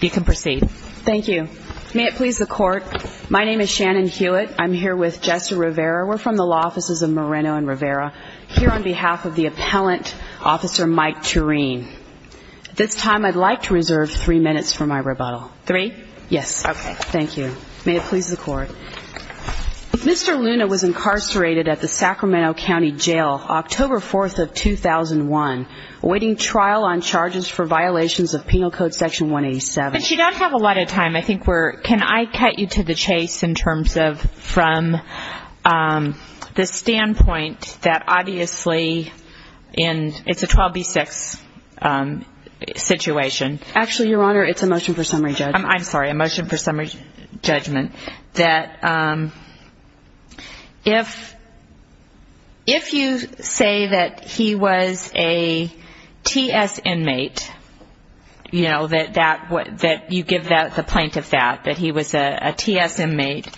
You can proceed. Thank you. May it please the Court, my name is Shannon Hewitt. I'm here with Jessa Rivera. We're from the Law Offices of Moreno and Rivera. Here on behalf of the appellant, Officer Mike Thurien. At this time I'd like to reserve three minutes for my rebuttal. Three? Yes. Okay. Thank you. May it please the Court. Mr. Luna was incarcerated at the Sacramento County Jail, October 4th of 2001, awaiting trial on charges for violations of Penal Code Section 186, 27. But you don't have a lot of time. I think we're, can I cut you to the chase in terms of from the standpoint that obviously in, it's a 12B6 situation. Actually, Your Honor, it's a motion for summary judgment. I'm sorry, a motion for summary judgment. That if, if you say that he was a TS inmate, you know, that you give the plaintiff that, that he was a TS inmate,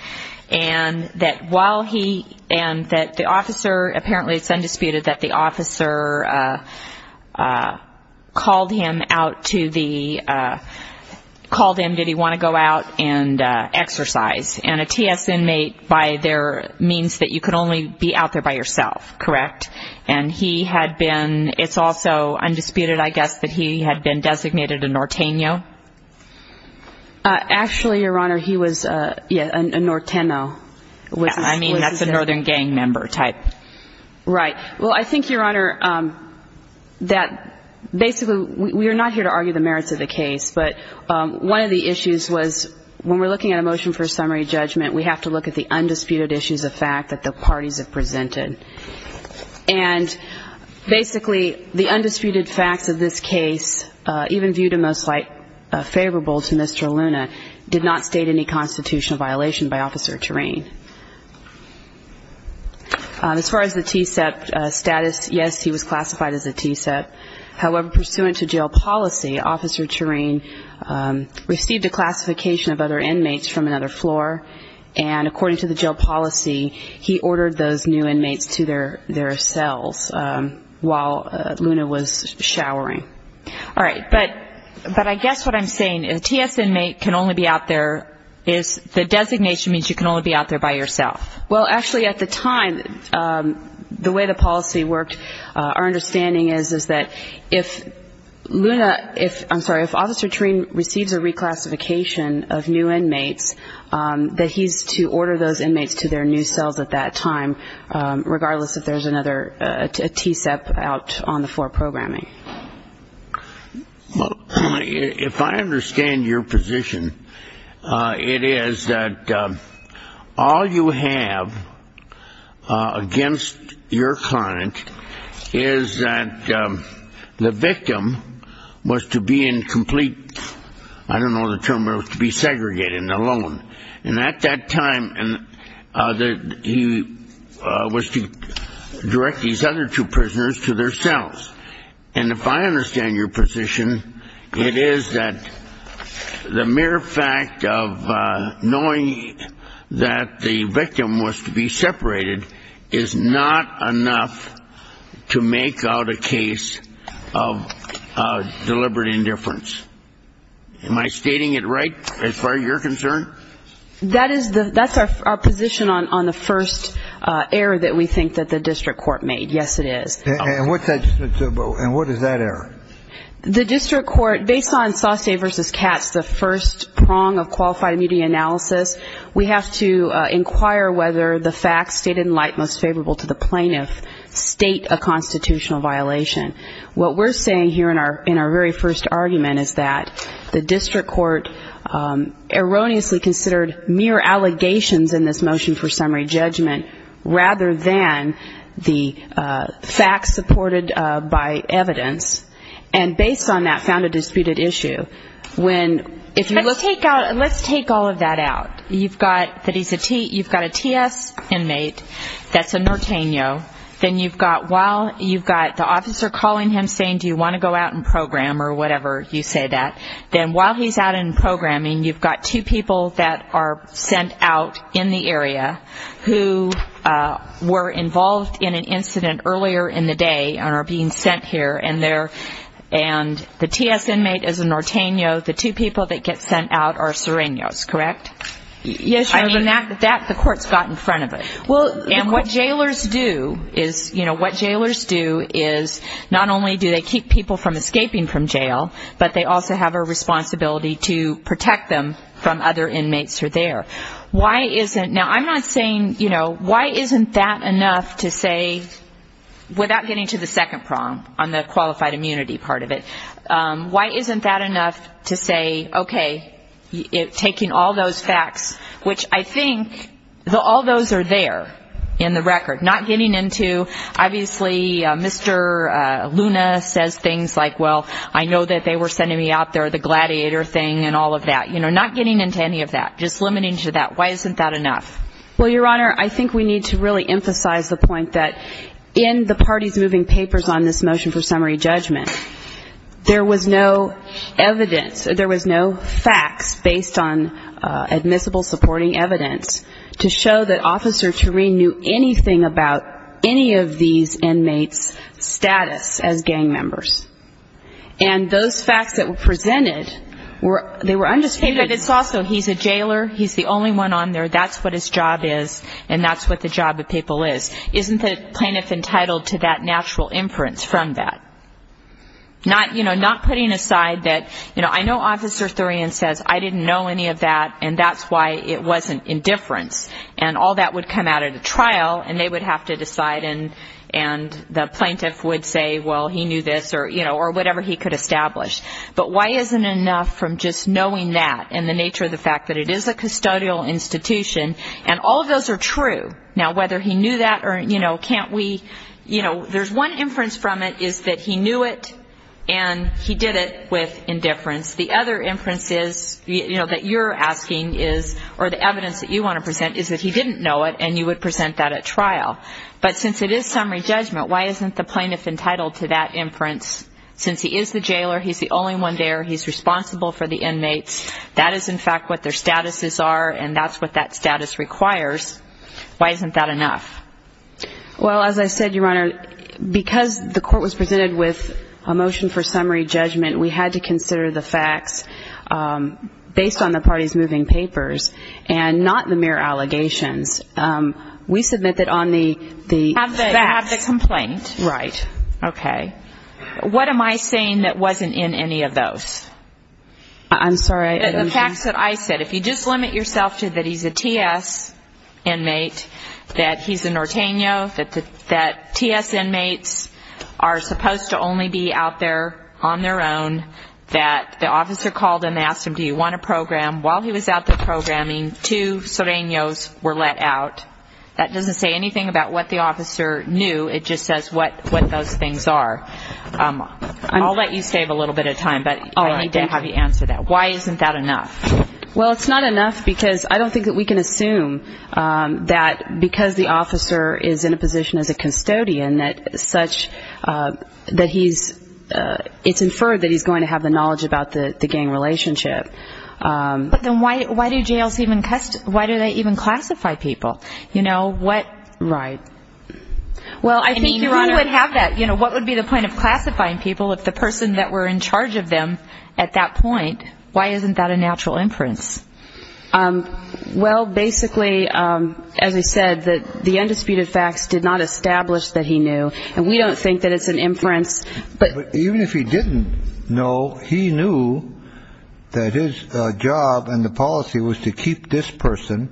and that while he, and that the officer, apparently it's undisputed that the officer called him out to the, called him, did he want to go out and exercise. And a TS inmate by their means that you could only be out there by yourself, correct? And he had been, it's also undisputed, I guess, that he had been designated a Norteno? Actually, Your Honor, he was a, yeah, a Norteno. I mean, that's a northern gang member type. Right. Well, I think, Your Honor, that basically we are not here to argue the merits of the case, but one of the issues was when we're looking at a motion for summary judgment, we have to look at the undisputed issues of fact that the parties have presented. And basically, the undisputed facts of this case, even viewed in most light favorable to Mr. Luna, did not state any constitutional violation by Officer Tureen. As far as the TSEP status, yes, he was classified as a TSEP. However, pursuant to jail policy, Officer Tureen received a classification of other inmates from another floor. And according to the jail policy, he ordered those new inmates to their cells while Luna was showering. All right. But I guess what I'm saying is a TS inmate can only be out there, the designation means you can only be out there by yourself. Well, actually, at the time, the way the policy worked, our understanding is, is that if Luna, if, I'm sorry, if Officer Tureen receives a reclassification of new inmates, that he's to order those inmates to their new cells at that time, regardless if there's another TSEP out on the floor programming. Well, if I understand your position, it is that all you have against your client is that the victim was to be in complete, I don't know the term, but was to be segregated and alone. And at that time, he was to direct these other two prisoners to their cells. And if I understand your position, it is that the mere fact of knowing that the victim was to be separated is not enough to make out a case of deliberate indifference. Am I stating it right, as far as you're concerned? That is the, that's our position on the first error that we think that the district court made. Yes, it is. And what's that, and what is that error? The district court, based on Saucey v. Katz, the first prong of qualified immunity analysis, we have to inquire whether the facts stated in light most favorable to the plaintiff state a constitutional violation. What we're saying here in our very first argument is that the district court erroneously considered mere allegations in this motion for summary judgment, rather than the facts supported by evidence, and based on that, found a disputed issue. Let's take all of that out. You've got a T.S. inmate that's a Norteno. Then you've got while, you've got the officer calling him saying, do you want to go out and program, or whatever you say that, then while he's out in programming, you've got two people that are sent out in the area who were involved in an incident earlier in the day and are being sent here. And the T.S. inmate is a Norteno. The two people that get sent out are Sirenios, correct? Yes, ma'am. I mean, that the court's got in front of it. Well, of course. And what jailers do is, you know, what jailers do is not only do they keep people from escaping from jail, but they also have a responsibility to protect them from other inmates who are there. Now, I'm not saying, you know, why isn't that enough to say, without getting to the second prong on the qualified immunity part of it, why isn't that enough to say, okay, taking all those facts, which I think all those are there in the record. Not getting into, obviously, Mr. Luna says things like, well, I know that they were sending me out there, the gladiator thing and all of that. You know, not getting into any of that. Just limiting to that. Why isn't that enough? Well, Your Honor, I think we need to really emphasize the point that in the party's moving papers on this motion for summary judgment, there was no evidence, there was no facts based on admissible supporting evidence to show that Officer Tureen knew anything about any of these inmates' status as gang members. And those facts that were presented, they were undisputed. But it's also, he's a jailer, he's the only one on there, that's what his job is, and that's what the job of people is. Isn't the plaintiff entitled to that natural inference from that? Not, you know, not putting aside that, you know, I know Officer Tureen says, I didn't know any of that, and that's why it wasn't indifference. And all that would come out at a trial, and they would have to decide, and the plaintiff would say, well, he knew this, or, you know, or whatever he could establish. But why isn't enough from just knowing that and the nature of the fact that it is a custodial institution, and all of those are true. Now, whether he knew that or, you know, can't we, you know, there's one inference from it is that he knew it and he did it with indifference. The other inference is, you know, that you're asking is, or the evidence that you want to present is that he didn't know it, and you would present that at trial. But since it is summary judgment, why isn't the plaintiff entitled to that inference, since he is the jailer, he's the only one there, he's responsible for the inmates, that is, in fact, what their statuses are, and that's what that status requires, why isn't that enough? Well, as I said, Your Honor, because the court was presented with a motion for summary judgment, we had to consider the facts based on the party's moving papers, and not the mere allegations. We submit that on the facts. Have the complaint. Right. Okay. What am I saying that wasn't in any of those? I'm sorry. The facts that I said. If you just limit yourself to that he's a TS inmate, that he's a Norteño, that TS inmates are supposed to only be out there on their own, that the officer called and asked him, do you want to program? While he was out there programming, two Soreños were let out. That doesn't say anything about what the officer knew. It just says what those things are. I'll let you save a little bit of time, but I need to have you answer that. Why isn't that enough? Well, it's not enough because I don't think that we can assume that because the officer is in a position as a custodian, that such that he's it's inferred that he's going to have the knowledge about the gang relationship. But then why do jails even why do they even classify people? You know what? Right. Well, I think you would have that. You know, what would be the point of classifying people if the person that were in charge of them at that point? Why isn't that a natural inference? Well, basically, as I said, that the undisputed facts did not establish that he knew. And we don't think that it's an inference. But even if he didn't know, he knew that his job and the policy was to keep this person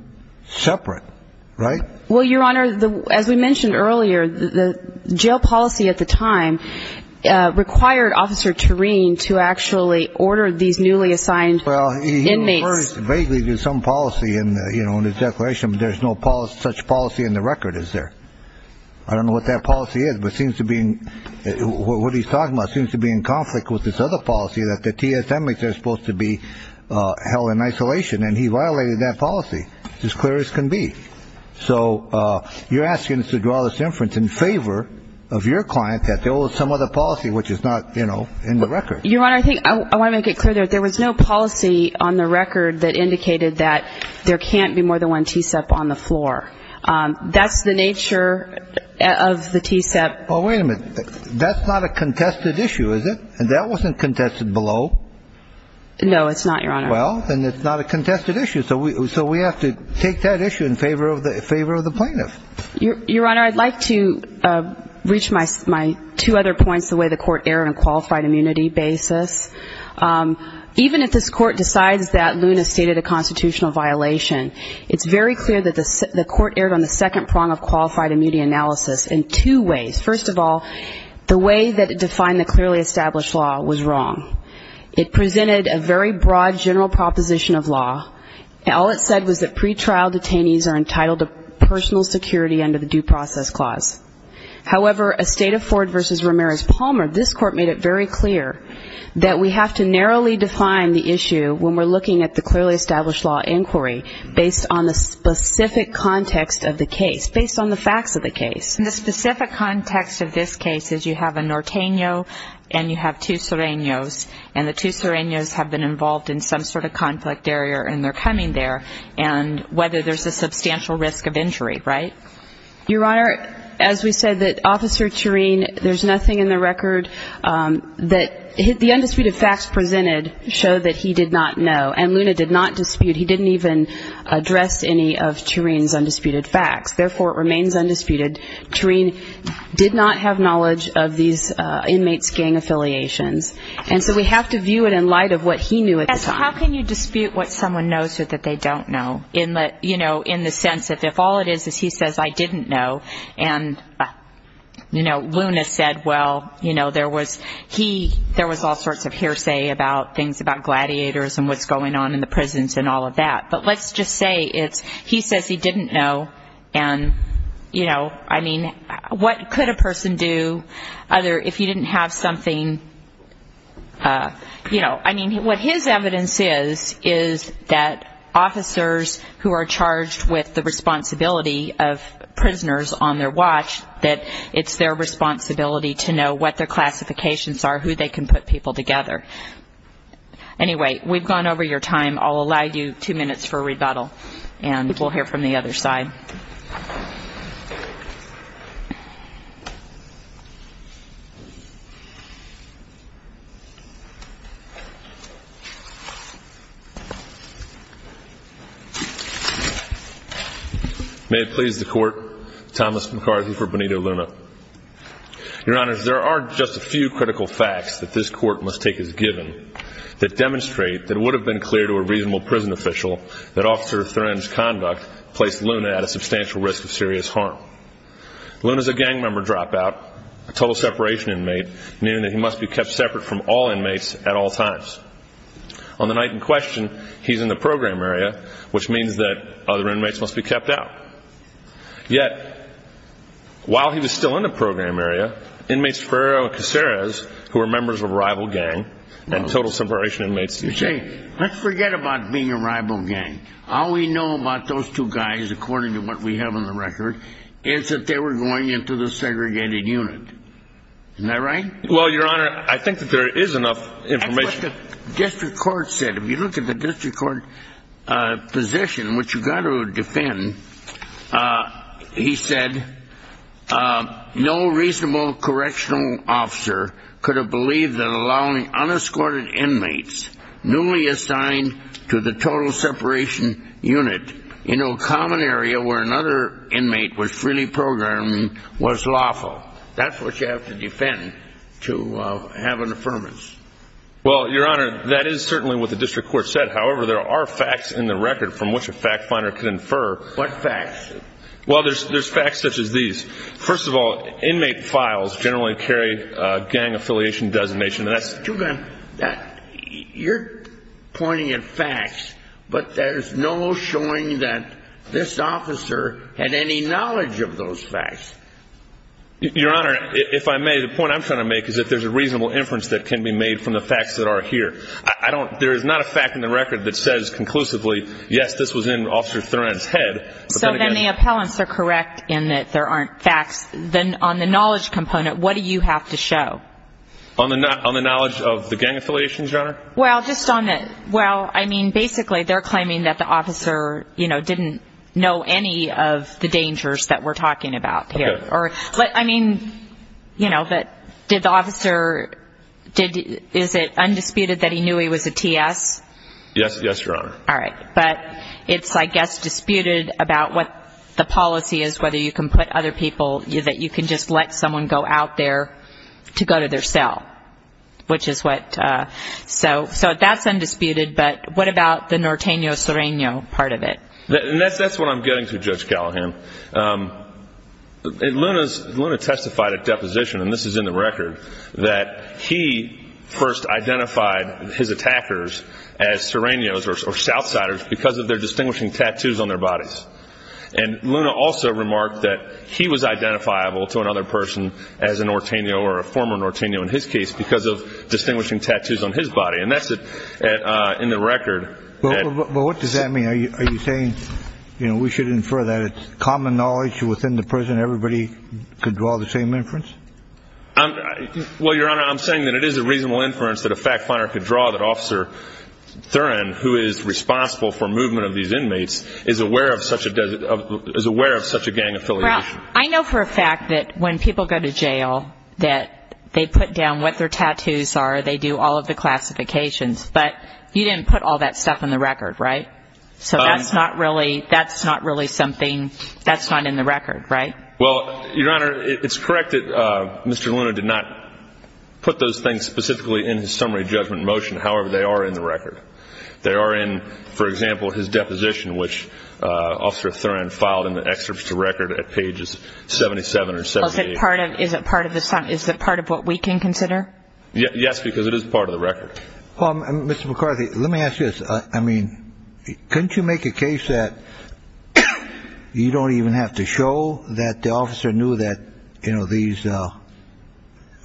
separate. Right. Well, Your Honor, as we mentioned earlier, the jail policy at the time required Officer Turin to actually order these newly assigned inmates. There's some policy in the declaration. There's no such policy in the record. Is there? I don't know what that policy is, but seems to be what he's talking about seems to be in conflict with this other policy that the TSM is supposed to be held in isolation. And he violated that policy as clear as can be. So you're asking us to draw this inference in favor of your client that there was some other policy which is not in the record. Your Honor, I want to make it clear that there was no policy on the record that indicated that there can't be more than one TSEP on the floor. That's the nature of the TSEP. Oh, wait a minute. That's not a contested issue, is it? And that wasn't contested below. No, it's not, Your Honor. Well, then it's not a contested issue. So we have to take that issue in favor of the plaintiff. Your Honor, I'd like to reach my two other points the way the Court erred on a qualified immunity basis. Even if this Court decides that Luna stated a constitutional violation, it's very clear that the Court erred on the second prong of qualified immunity analysis in two ways. First of all, the way that it defined the clearly established law was wrong. All it said was that pretrial detainees are entitled to personal security under the Due Process Clause. However, a state of Ford v. Ramirez Palmer, this Court made it very clear that we have to narrowly define the issue when we're looking at the clearly established law inquiry based on the specific context of the case, based on the facts of the case. The specific context of this case is you have a Norteño and you have two Sereños, and the two Sereños have been involved in some sort of conflict area and they're coming there, and whether there's a substantial risk of injury, right? Your Honor, as we said, that Officer Tureen, there's nothing in the record that the undisputed facts presented show that he did not know, and Luna did not dispute. He didn't even address any of Tureen's undisputed facts. Therefore, it remains undisputed. Tureen did not have knowledge of these inmates' gang affiliations. And so we have to view it in light of what he knew at the time. How can you dispute what someone knows so that they don't know? You know, in the sense that if all it is is he says, I didn't know, and, you know, Luna said, well, you know, there was all sorts of hearsay about things about gladiators and what's going on in the prisons and all of that. But let's just say it's he says he didn't know, and, you know, I mean, what could a person do other If you didn't have something, you know, I mean, what his evidence is, is that officers who are charged with the responsibility of prisoners on their watch, that it's their responsibility to know what their classifications are, who they can put people together. Anyway, we've gone over your time. I'll allow you two minutes for rebuttal, and we'll hear from the other side. May it please the Court, Thomas McCarthy for Benito Luna. Your Honors, there are just a few critical facts that this Court must take as given that demonstrate that it would have been clear to a reasonable prison official that Officer Thurman's conduct placed Luna at a substantial risk of serious harm. Luna's a gang member dropout, a total separation inmate, meaning that he must be kept separate from all inmates at all times. On the night in question, he's in the program area, which means that other inmates must be kept out. Yet, while he was still in the program area, we have inmates Ferrero and Caceres who are members of a rival gang and total separation inmates. You see, let's forget about being a rival gang. All we know about those two guys, according to what we have on the record, is that they were going into the segregated unit. Isn't that right? Well, Your Honor, I think that there is enough information. That's what the district court said. If you look at the district court position, which you've got to defend, he said, That's what you have to defend to have an affirmance. Well, Your Honor, that is certainly what the district court said. However, there are facts in the record from which a fact finder can infer. What facts? Well, there's facts such as these. First of all, inmate files generally carry gang affiliation designation. You're pointing at facts, but there's no showing that this officer had any knowledge of those facts. Your Honor, if I may, the point I'm trying to make is that there's a reasonable inference that can be made from the facts that are here. There is not a fact in the record that says conclusively, yes, this was in Officer Thoren's head. So then the appellants are correct in that there aren't facts. Then on the knowledge component, what do you have to show? On the knowledge of the gang affiliations, Your Honor? Well, I mean, basically they're claiming that the officer didn't know any of the dangers that we're talking about here. I mean, did the officer, is it undisputed that he knew he was a TS? Yes, Your Honor. All right. But it's, I guess, disputed about what the policy is, whether you can put other people, that you can just let someone go out there to go to their cell, which is what. So that's undisputed, but what about the Norteño-Soreno part of it? That's what I'm getting to, Judge Callahan. Luna testified at deposition, and this is in the record, that he first identified his attackers as Sorenos or Southsiders because of their distinguishing tattoos on their bodies. And Luna also remarked that he was identifiable to another person as a Norteño or a former Norteño in his case because of distinguishing tattoos on his body. And that's in the record. Well, what does that mean? Are you saying, you know, we should infer that it's common knowledge within the prison everybody could draw the same inference? Well, Your Honor, I'm saying that it is a reasonable inference that a fact finder could draw that Officer Thurin, who is responsible for movement of these inmates, is aware of such a gang affiliation. Well, I know for a fact that when people go to jail, that they put down what their tattoos are, they do all of the classifications, but you didn't put all that stuff in the record, right? So that's not really something that's not in the record, right? Well, Your Honor, it's correct that Mr. Luna did not put those things specifically in his summary judgment motion. However, they are in the record. They are in, for example, his deposition, which Officer Thurin filed in the excerpts to record at pages 77 or 78. Is it part of what we can consider? Yes, because it is part of the record. Well, Mr. McCarthy, let me ask you this. I mean, couldn't you make a case that you don't even have to show that the officer knew that, you know, these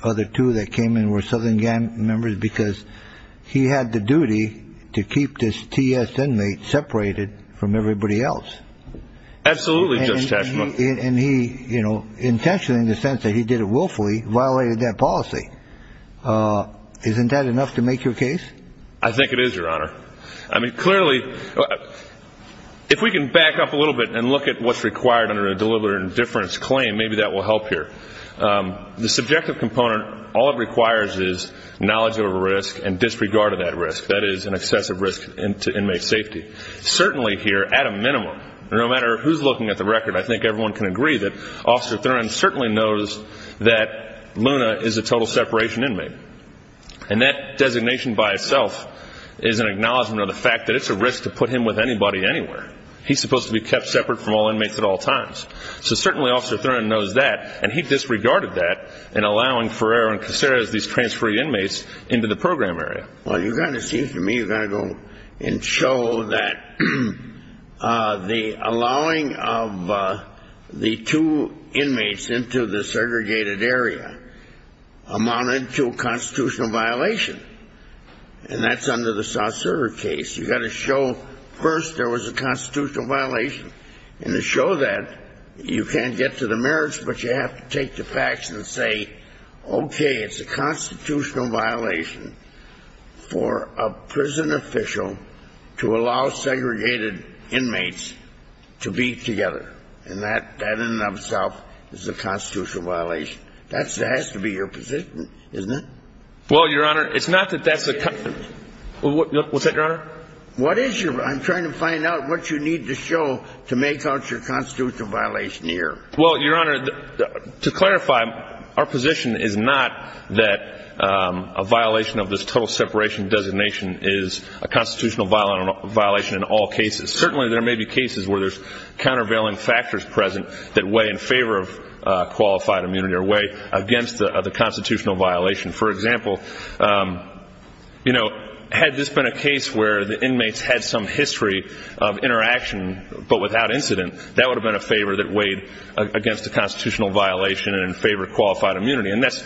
other two that came in were Southern gang members because he had the duty to keep this T.S. inmate separated from everybody else? Absolutely, Judge Tashman. And he, you know, intentionally, in the sense that he did it willfully, violated that policy. Isn't that enough to make your case? I think it is, Your Honor. I mean, clearly, if we can back up a little bit and look at what's required under a deliberate indifference claim, maybe that will help here. The subjective component, all it requires is knowledge of a risk and disregard of that risk. That is an excessive risk to inmate safety. Certainly here, at a minimum, no matter who's looking at the record, I think everyone can agree that Officer Thurman certainly knows that Luna is a total separation inmate. And that designation by itself is an acknowledgment of the fact that it's a risk to put him with anybody anywhere. He's supposed to be kept separate from all inmates at all times. So certainly Officer Thurman knows that, and he disregarded that in allowing Ferrer and Caceres, these transferring inmates, into the program area. Well, it seems to me you've got to go and show that the allowing of the two inmates into the segregated area amounted to a constitutional violation. And that's under the Saucera case. You've got to show first there was a constitutional violation. And to show that, you can't get to the merits, but you have to take the facts and say, okay, it's a constitutional violation for a prison official to allow segregated inmates to be together. And that in and of itself is a constitutional violation. That has to be your position, isn't it? Well, Your Honor, it's not that that's a concern. What's that, Your Honor? I'm trying to find out what you need to show to make out your constitutional violation here. Well, Your Honor, to clarify, our position is not that a violation of this total separation designation is a constitutional violation in all cases. Certainly there may be cases where there's countervailing factors present that weigh in favor of qualified immunity or weigh against the constitutional violation. For example, had this been a case where the inmates had some history of interaction but without incident, that would have been a favor that weighed against the constitutional violation and in favor of qualified immunity. And that's,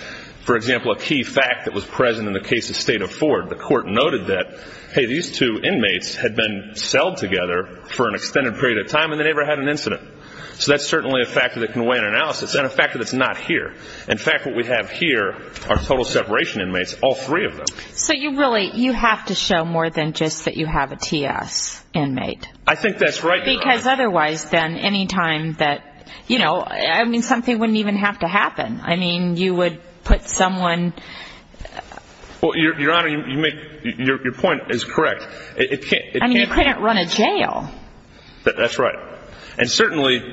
for example, a key fact that was present in the case of State of Ford. The court noted that, hey, these two inmates had been celled together for an extended period of time and they never had an incident. So that's certainly a factor that can weigh in analysis and a factor that's not here. In fact, what we have here are total separation inmates, all three of them. So you really have to show more than just that you have a TS inmate. I think that's right, Your Honor. Because otherwise, then, any time that, you know, I mean, something wouldn't even have to happen. I mean, you would put someone. Well, Your Honor, your point is correct. I mean, you couldn't run a jail. That's right. And certainly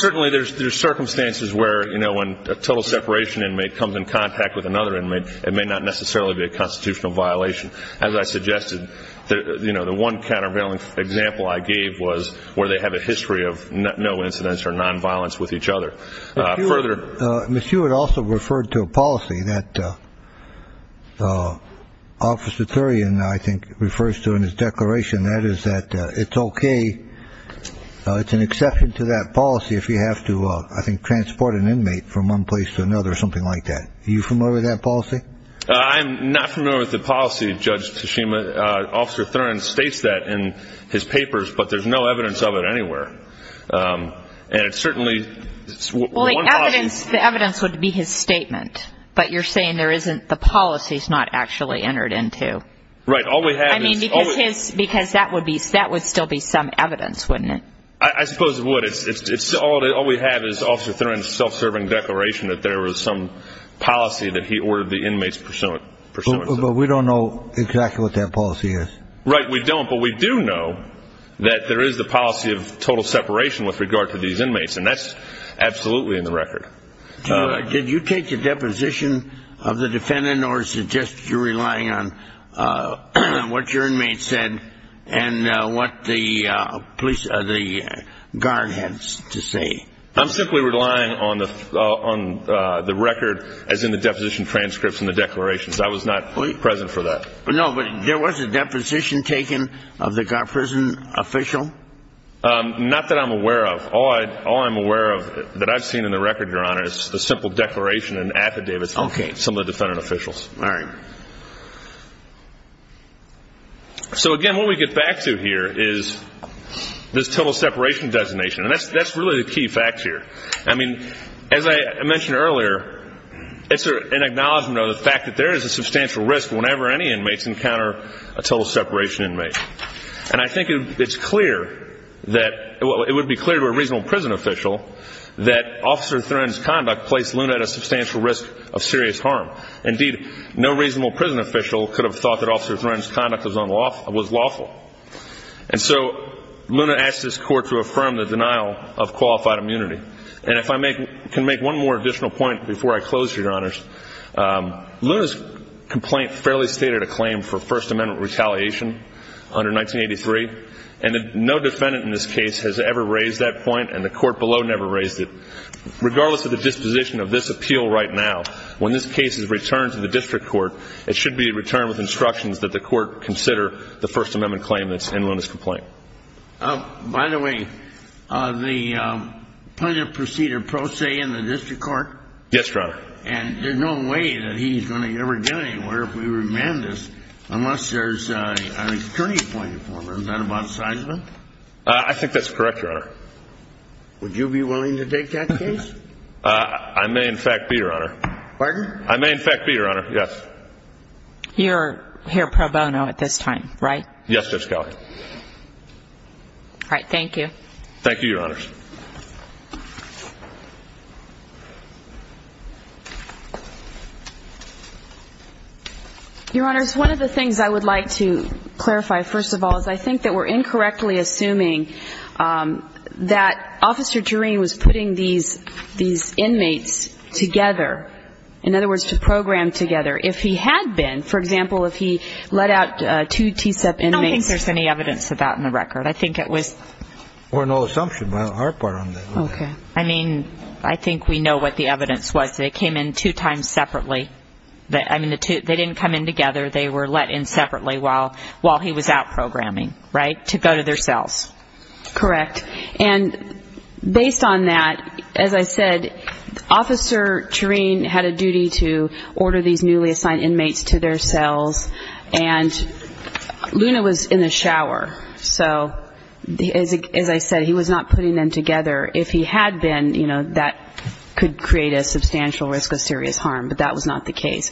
there's circumstances where, you know, when a total separation inmate comes in contact with another inmate, it may not necessarily be a constitutional violation. As I suggested, you know, the one countervailing example I gave was where they have a history of no incidents or nonviolence with each other. Further. Ms. Hewitt also referred to a policy that Officer Thurian, I think, refers to in his declaration. That is that it's okay, it's an exception to that policy if you have to, I think, transport an inmate from one place to another or something like that. Are you familiar with that policy? I'm not familiar with the policy, Judge Tsushima. Officer Thurian states that in his papers, but there's no evidence of it anywhere. And it certainly. Well, the evidence would be his statement. But you're saying there isn't the policies not actually entered into. Right. All we have is. I mean, because that would still be some evidence, wouldn't it? I suppose it would. All we have is Officer Thurian's self-serving declaration that there was some policy that he ordered the inmates pursuant. But we don't know exactly what that policy is. Right. We don't. But we do know that there is the policy of total separation with regard to these inmates. And that's absolutely in the record. Did you take a deposition of the defendant or is it just you relying on what your inmates said and what the police or the guard had to say? I'm simply relying on the record as in the deposition transcripts and the declarations. I was not present for that. No, but there was a deposition taken of the prison official. Not that I'm aware of. All I'm aware of that I've seen in the record, Your Honor, is the simple declaration and affidavits of some of the defendant officials. All right. So, again, what we get back to here is this total separation designation. And that's really the key fact here. I mean, as I mentioned earlier, it's an acknowledgment of the fact that there is a substantial risk whenever any inmates encounter a total separation inmate. And I think it's clear that it would be clear to a reasonable prison official that Officer Thren's conduct placed Luna at a substantial risk of serious harm. Indeed, no reasonable prison official could have thought that Officer Thren's conduct was lawful. And so Luna asked this Court to affirm the denial of qualified immunity. And if I can make one more additional point before I close here, Your Honors, Luna's complaint fairly stated a claim for First Amendment retaliation under 1983. And no defendant in this case has ever raised that point, and the Court below never raised it. Regardless of the disposition of this appeal right now, when this case is returned to the district court, it should be returned with instructions that the court consider the First Amendment claim that's in Luna's complaint. By the way, the plaintiff proceeded pro se in the district court? Yes, Your Honor. And there's no way that he's going to ever get anywhere if we remand this unless there's an attorney appointed for him. Is that about Sizeman? I think that's correct, Your Honor. Would you be willing to take that case? I may, in fact, be, Your Honor. Pardon? I may, in fact, be, Your Honor. Yes. You're here pro bono at this time, right? Yes, Judge Kelley. All right. Thank you. Thank you, Your Honors. Your Honors, one of the things I would like to clarify, first of all, is I think that we're incorrectly assuming that Officer Jureen was putting these inmates together, in other words, to program together. If he had been, for example, if he let out two TSEP inmates. I don't think there's any evidence of that in the record. I think it was. We're no assumption on our part on that. Okay. I mean, I think we know what the evidence was. They came in two times separately. I mean, they didn't come in together. They were let in separately while he was out programming, right, to go to their cells. Correct. And based on that, as I said, Officer Jureen had a duty to order these newly assigned inmates to their cells. And Luna was in the shower. So, as I said, he was not putting them together. If he had been, you know, that could create a substantial risk of serious harm. But that was not the case.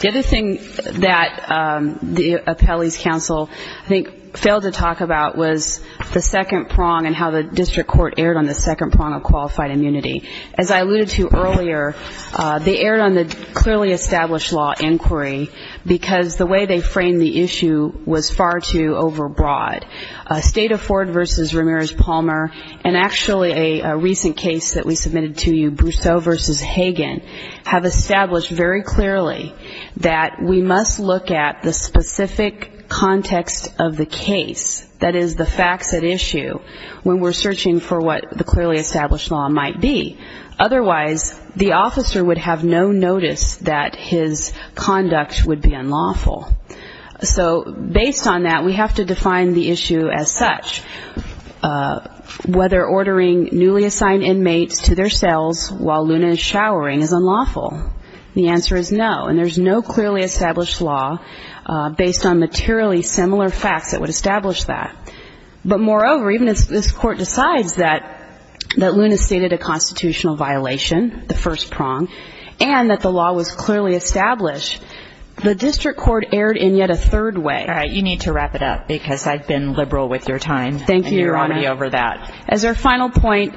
The other thing that the appellee's counsel, I think, failed to talk about was the second prong and how the district court erred on the second prong of qualified immunity. As I alluded to earlier, they erred on the clearly established law inquiry because the way they framed the issue was far too overbroad. State of Ford v. Ramirez-Palmer, and actually a recent case that we submitted to you, Brousseau v. Hagen, have established very clearly that we must look at the specific context of the case, that is, the facts at issue, when we're searching for what the clearly established law might be. Otherwise, the officer would have no notice that his conduct would be unlawful. So, based on that, we have to define the issue as such, whether ordering newly assigned inmates to their cells while Luna is showering is unlawful. The answer is no, and there's no clearly established law based on materially similar facts that would establish that. But, moreover, even if this court decides that Luna stated a constitutional violation, the first prong, and that the law was clearly established, the district court erred in yet a third way. All right, you need to wrap it up because I've been liberal with your time. Thank you, Your Honor. And you're already over that. As our final point,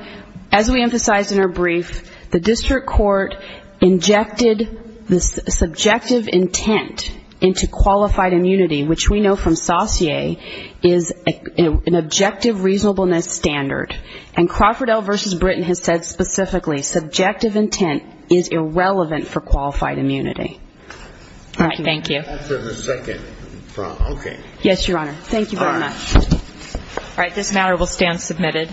as we emphasized in our brief, the district court injected the subjective intent into qualified immunity, which we know from Saussure is an objective reasonableness standard. And Crawford L. v. Britton has said specifically, subjective intent is irrelevant for qualified immunity. All right, thank you. After the second prong. Okay. Yes, Your Honor. Thank you very much. All right, this matter will stand submitted.